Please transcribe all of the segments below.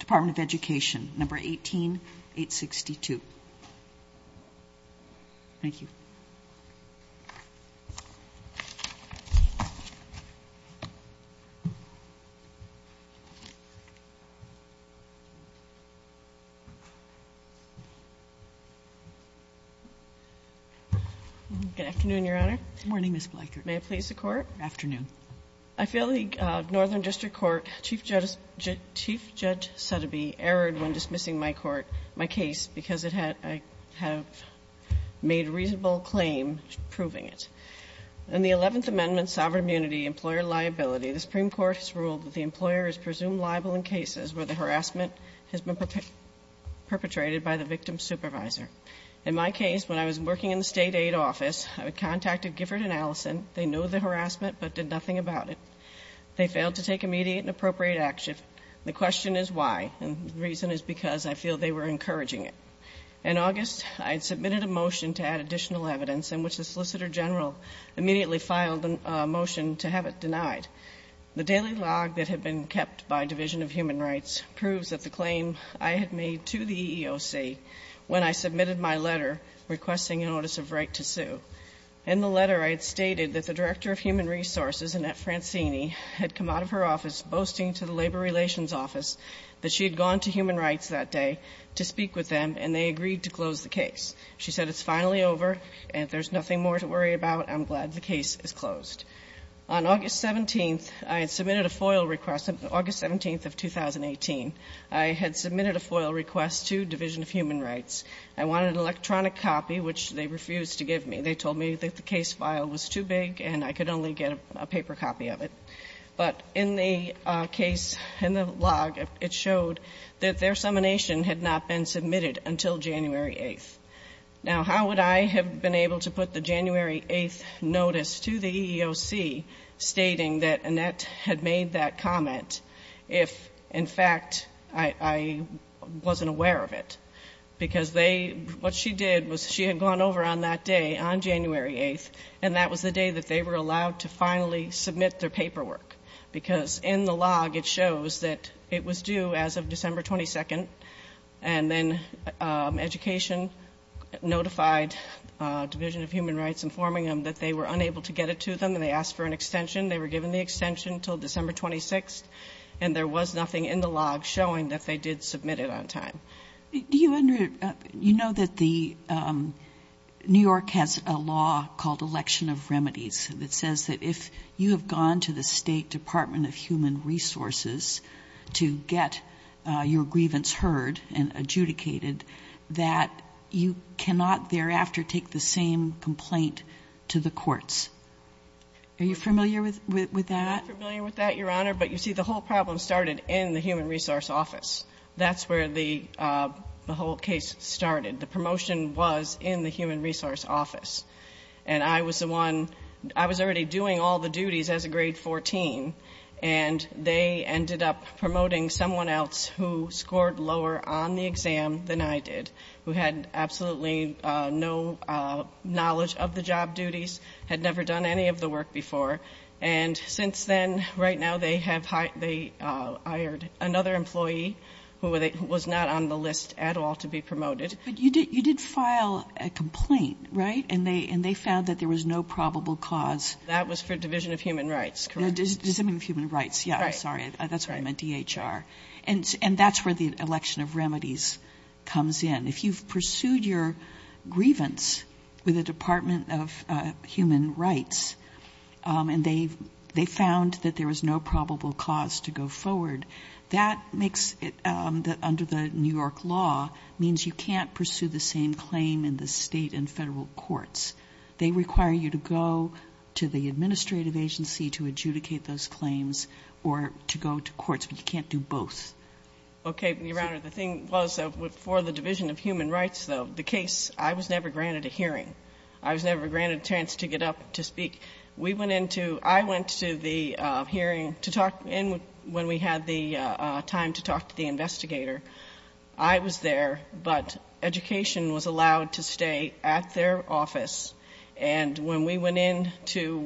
Department of Education, No. 18-862. Thank you. Good afternoon, Your Honor. Good morning, Ms. Bleichert. May it please the Court? Afternoon. I feel the Northern District Court, Chief Judge Sotheby, erred when dismissing my court, my case, because I have made a reasonable claim proving it. In the Eleventh Amendment, Sovereign Immunity, Employer Liability, the Supreme Court has ruled that the employer is presumed liable in cases where the harassment has been perpetrated by the victim's supervisor. In my case, when I was working in the State Aid Office, I contacted Gifford and Allison. They knew the harassment but did nothing about it. They failed to take immediate and appropriate action. The question is why, and the reason is because I feel they were encouraging it. In August, I had submitted a motion to add additional evidence in which the Solicitor General immediately filed a motion to have it denied. The daily log that had been kept by Division of Human Rights proves that the In the letter, I had stated that the Director of Human Resources, Annette Francini, had come out of her office boasting to the Labor Relations Office that she had gone to Human Rights that day to speak with them, and they agreed to close the case. She said, it's finally over, and there's nothing more to worry about. I'm glad the case is closed. On August 17th, I had submitted a FOIL request. August 17th of 2018, I had submitted a FOIL request to Division of Human Rights. I wanted an electronic copy, which they refused to give me. They told me that the case file was too big and I could only get a paper copy of it. But in the case, in the log, it showed that their summonation had not been submitted until January 8th. Now, how would I have been able to put the January 8th notice to the EEOC stating that Annette had made that comment if, in fact, I wasn't aware of it? Because they, what she did was she had gone over on that day, on January 8th, and that was the day that they were allowed to finally submit their paperwork. Because in the log, it shows that it was due as of December 22nd. And then Education notified Division of Human Rights, informing them that they were unable to get it to them, and they asked for an extension. They were given the extension until December 26th, and there was nothing in the log showing that they did submit it on time. Kagan. Do you under, you know that the, New York has a law called Election of Remedies that says that if you have gone to the State Department of Human Resources to get your grievance heard and adjudicated, that you cannot thereafter take the same complaint to the courts. Are you familiar with that? I'm not familiar with that, Your Honor. But you see, the whole problem started in the Human Resource Office. That's where the whole case started. The promotion was in the Human Resource Office. And I was the one, I was already doing all the duties as a grade 14, and they ended up promoting someone else who scored lower on the exam than I did, who had absolutely no knowledge of the job duties, had never done any of the work before. And since then, right now, they have hired, they hired another employee who was not on the list at all to be promoted. But you did file a complaint, right? And they found that there was no probable cause. That was for Division of Human Rights, correct. Division of Human Rights, yeah, I'm sorry. That's what I meant, DHR. And that's where the Election of Remedies comes in. If you've pursued your grievance with the Department of Human Rights, and they found that there was no probable cause to go forward, that makes it, under the New York law, means you can't pursue the same claim in the state and federal courts. They require you to go to the administrative agency to adjudicate those claims or to go to courts, but you can't do both. Okay, Your Honor. The thing was, for the Division of Human Rights, though, the case, I was never granted a hearing. I was never granted a chance to get up to speak. We went into, I went to the hearing to talk, and when we had the time to talk to the investigator, I was there, but education was allowed to stay at their office. And when we went in to,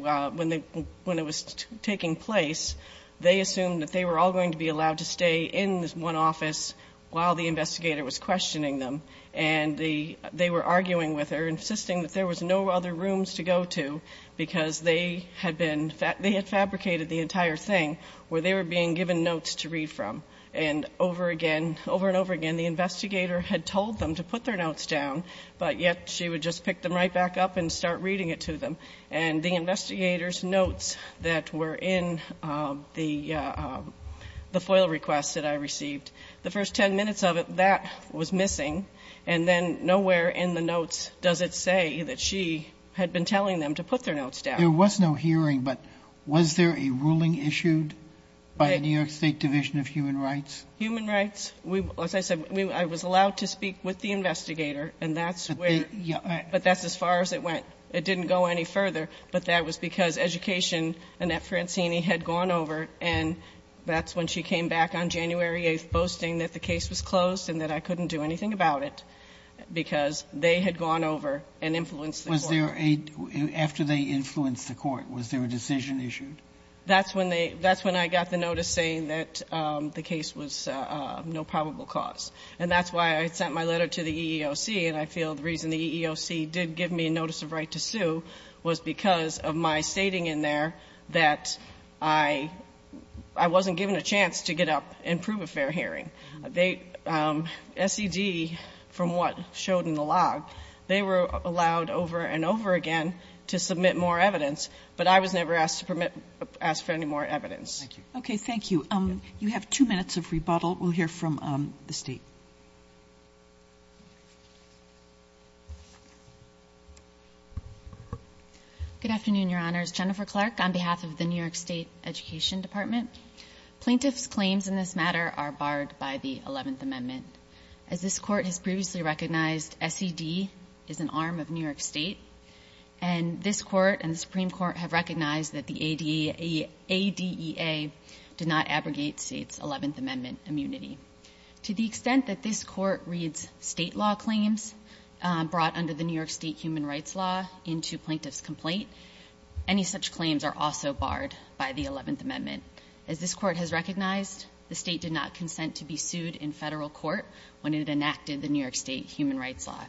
when it was taking place, they assumed that they were all going to be allowed to stay in one office while the investigator was questioning them. And they were arguing with her, insisting that there was no other rooms to go to because they had been, they had fabricated the entire thing where they were being given notes to read from. And over again, over and over again, the investigator had told them to put their notes down, but yet she would just pick them right back up and start reading it to them. And the investigator's notes that were in the FOIL requests that I received, the first ten minutes of it, that was missing. And then nowhere in the notes does it say that she had been telling them to put their notes down. There was no hearing, but was there a ruling issued by the New York State Division of Human Rights? Human rights? As I said, I was allowed to speak with the investigator, and that's where, but that's as far as it went. It didn't go any further, but that was because education, Annette Francini had gone over, and that's when she came back on January 8th boasting that the case was closed and that I couldn't do anything about it because they had gone over and influenced the court. Was there a, after they influenced the court, was there a decision issued? That's when they, that's when I got the notice saying that the case was no probable cause. And that's why I sent my letter to the EEOC, and I feel the reason the EEOC did give me a notice of right to sue was because of my stating in there that I wasn't given a chance to get up and prove a fair hearing. They, SED, from what showed in the log, they were allowed over and over again to submit more evidence, but I was never asked for any more evidence. Okay, thank you. You have two minutes of rebuttal. We'll hear from the State. Good afternoon, Your Honors. Jennifer Clark on behalf of the New York State Education Department. Plaintiffs' claims in this matter are barred by the Eleventh Amendment. As this Court has previously recognized, SED is an arm of New York State, and this Court and the Supreme Court have recognized that the ADEA did not abrogate State's Eleventh Amendment immunity. To the extent that this Court reads State law claims brought under the New York State human rights law into plaintiff's complaint, any such claims are also barred by the Eleventh Amendment. As this Court has recognized, the State did not consent to be sued in Federal court when it enacted the New York State human rights law.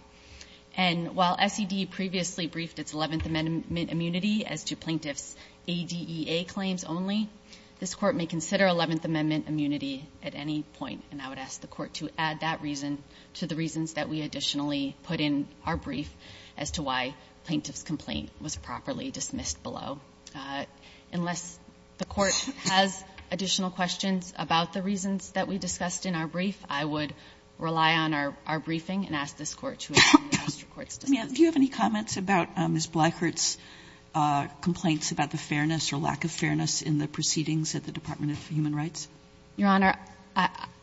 And while SED previously briefed its Eleventh Amendment immunity as to plaintiff's ADEA claims only, this Court may consider Eleventh Amendment immunity at any point, and I would ask the Court to add that reason to the reasons that we additionally put in our brief as to why plaintiff's complaint was properly dismissed below. Unless the Court has additional questions about the reasons that we discussed in our brief, I would rely on our briefing and ask this Court to examine the district court's discussion. Sotomayor, do you have any comments about Ms. Bleichert's complaints about the fairness or lack of fairness in the proceedings at the Department of Human Rights? Your Honor,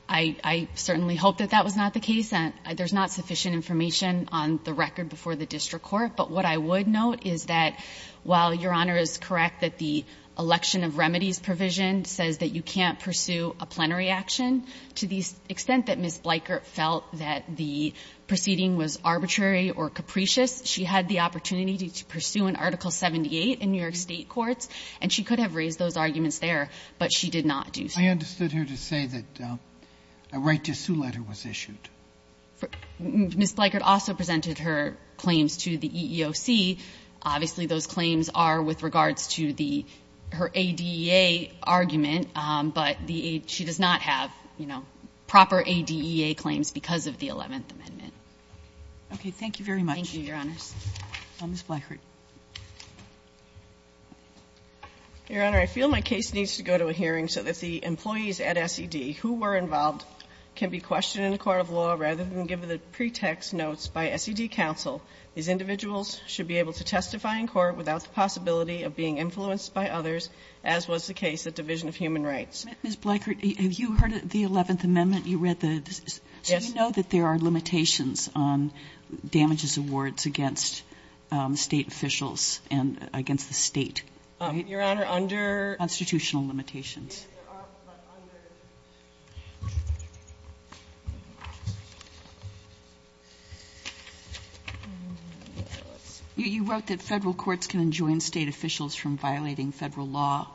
I certainly hope that that was not the case. There's not sufficient information on the record before the district court. But what I would note is that while Your Honor is correct that the election of remedies provision says that you can't pursue a plenary action, to the extent that Ms. Bleichert felt that the proceeding was arbitrary or capricious, she had the opportunity to pursue an Article 78 in New York State courts, and she could have raised those arguments there, but she did not do so. I understood her to say that a right to sue letter was issued. Ms. Bleichert also presented her claims to the EEOC. Obviously, those claims are with regards to the ADEA argument, but she does not have, you know, proper ADEA claims because of the Eleventh Amendment. Okay. Thank you, Your Honors. Ms. Bleichert. Your Honor, I feel my case needs to go to a hearing so that the employees at SED who were involved can be questioned in a court of law rather than given pretext notes by SED counsel. These individuals should be able to testify in court without the possibility of being influenced by others, as was the case at Division of Human Rights. Ms. Bleichert, have you heard of the Eleventh Amendment? You read the ---- Yes. Do you know that there are limitations on damages awards against State officials and against the State? Your Honor, under ---- Constitutional limitations. Yes, there are, but under ---- You wrote that Federal courts can enjoin State officials from violating Federal law,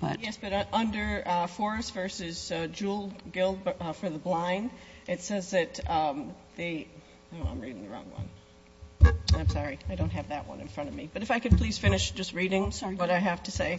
but ---- Yes, but under Forrest v. Jewell, Guild for the Blind, it says that the ---- oh, I'm reading the wrong one. I'm sorry. I don't have that one in front of me. But if I could please finish just reading what I have to say.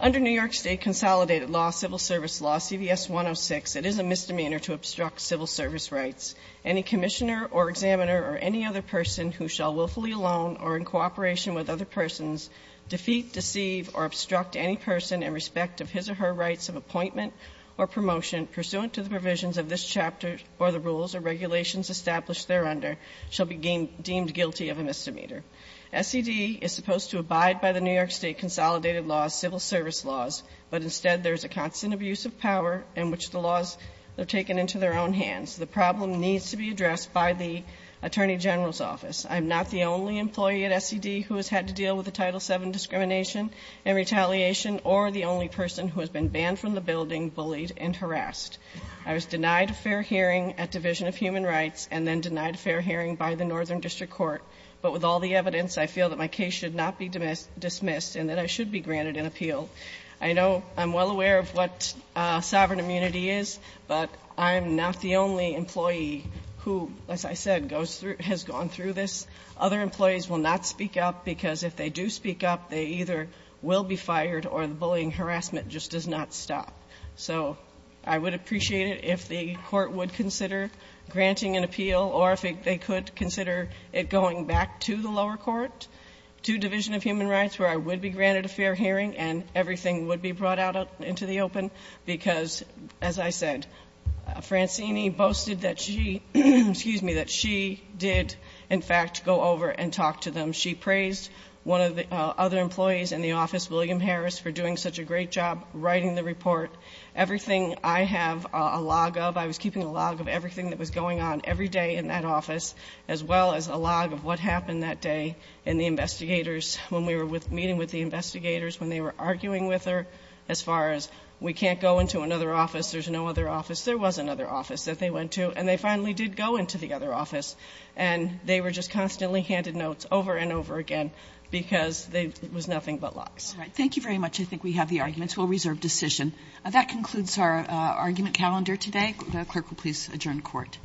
Under New York State consolidated law, civil service law, CVS 106, it is a misdemeanor to obstruct civil service rights. Any commissioner or examiner or any other person who shall willfully alone or in cooperation with other persons, defeat, deceive, or obstruct any person in respect of his or her rights of appointment or promotion pursuant to the provisions of this chapter or the rules or regulations established thereunder shall be deemed guilty of a misdemeanor. SED is supposed to abide by the New York State consolidated law, civil service laws, but instead there is a constant abuse of power in which the laws are taken into their own hands. The problem needs to be addressed by the Attorney General's office. I'm not the only employee at SED who has had to deal with the Title VII discrimination and retaliation or the only person who has been banned from the building, bullied and harassed. I was denied a fair hearing at Division of Human Rights and then denied a fair hearing by the Northern District Court, but with all the evidence, I feel that my case should not be dismissed and that I should be granted an appeal. I know I'm well aware of what sovereign immunity is, but I'm not the only employee who, as I said, has gone through this. Other employees will not speak up because if they do speak up, they either will be fired or the bullying harassment just does not stop. So I would appreciate it if the Court would consider granting an appeal or if they could consider it going back to the lower court, to Division of Human Rights, where I would be granted a fair hearing and everything would be brought out into the open because, as I said, Francine boasted that she did, in fact, go over and talk to them. She praised one of the other employees in the office, William Harris, for doing such a great job writing the report. Everything I have a log of, I was keeping a log of everything that was going on every day in that office, as well as a log of what happened that day in the investigators when we were meeting with the investigators, when they were arguing with her as far as we can't go into another office, there's no other office. There was another office that they went to, and they finally did go into the other office, and they were just constantly handed notes over and over again because it was nothing but logs. Kagan. Thank you very much. I think we have the arguments. We'll reserve decision. That concludes our argument calendar today. The Clerk will please adjourn court. Court is adjourned.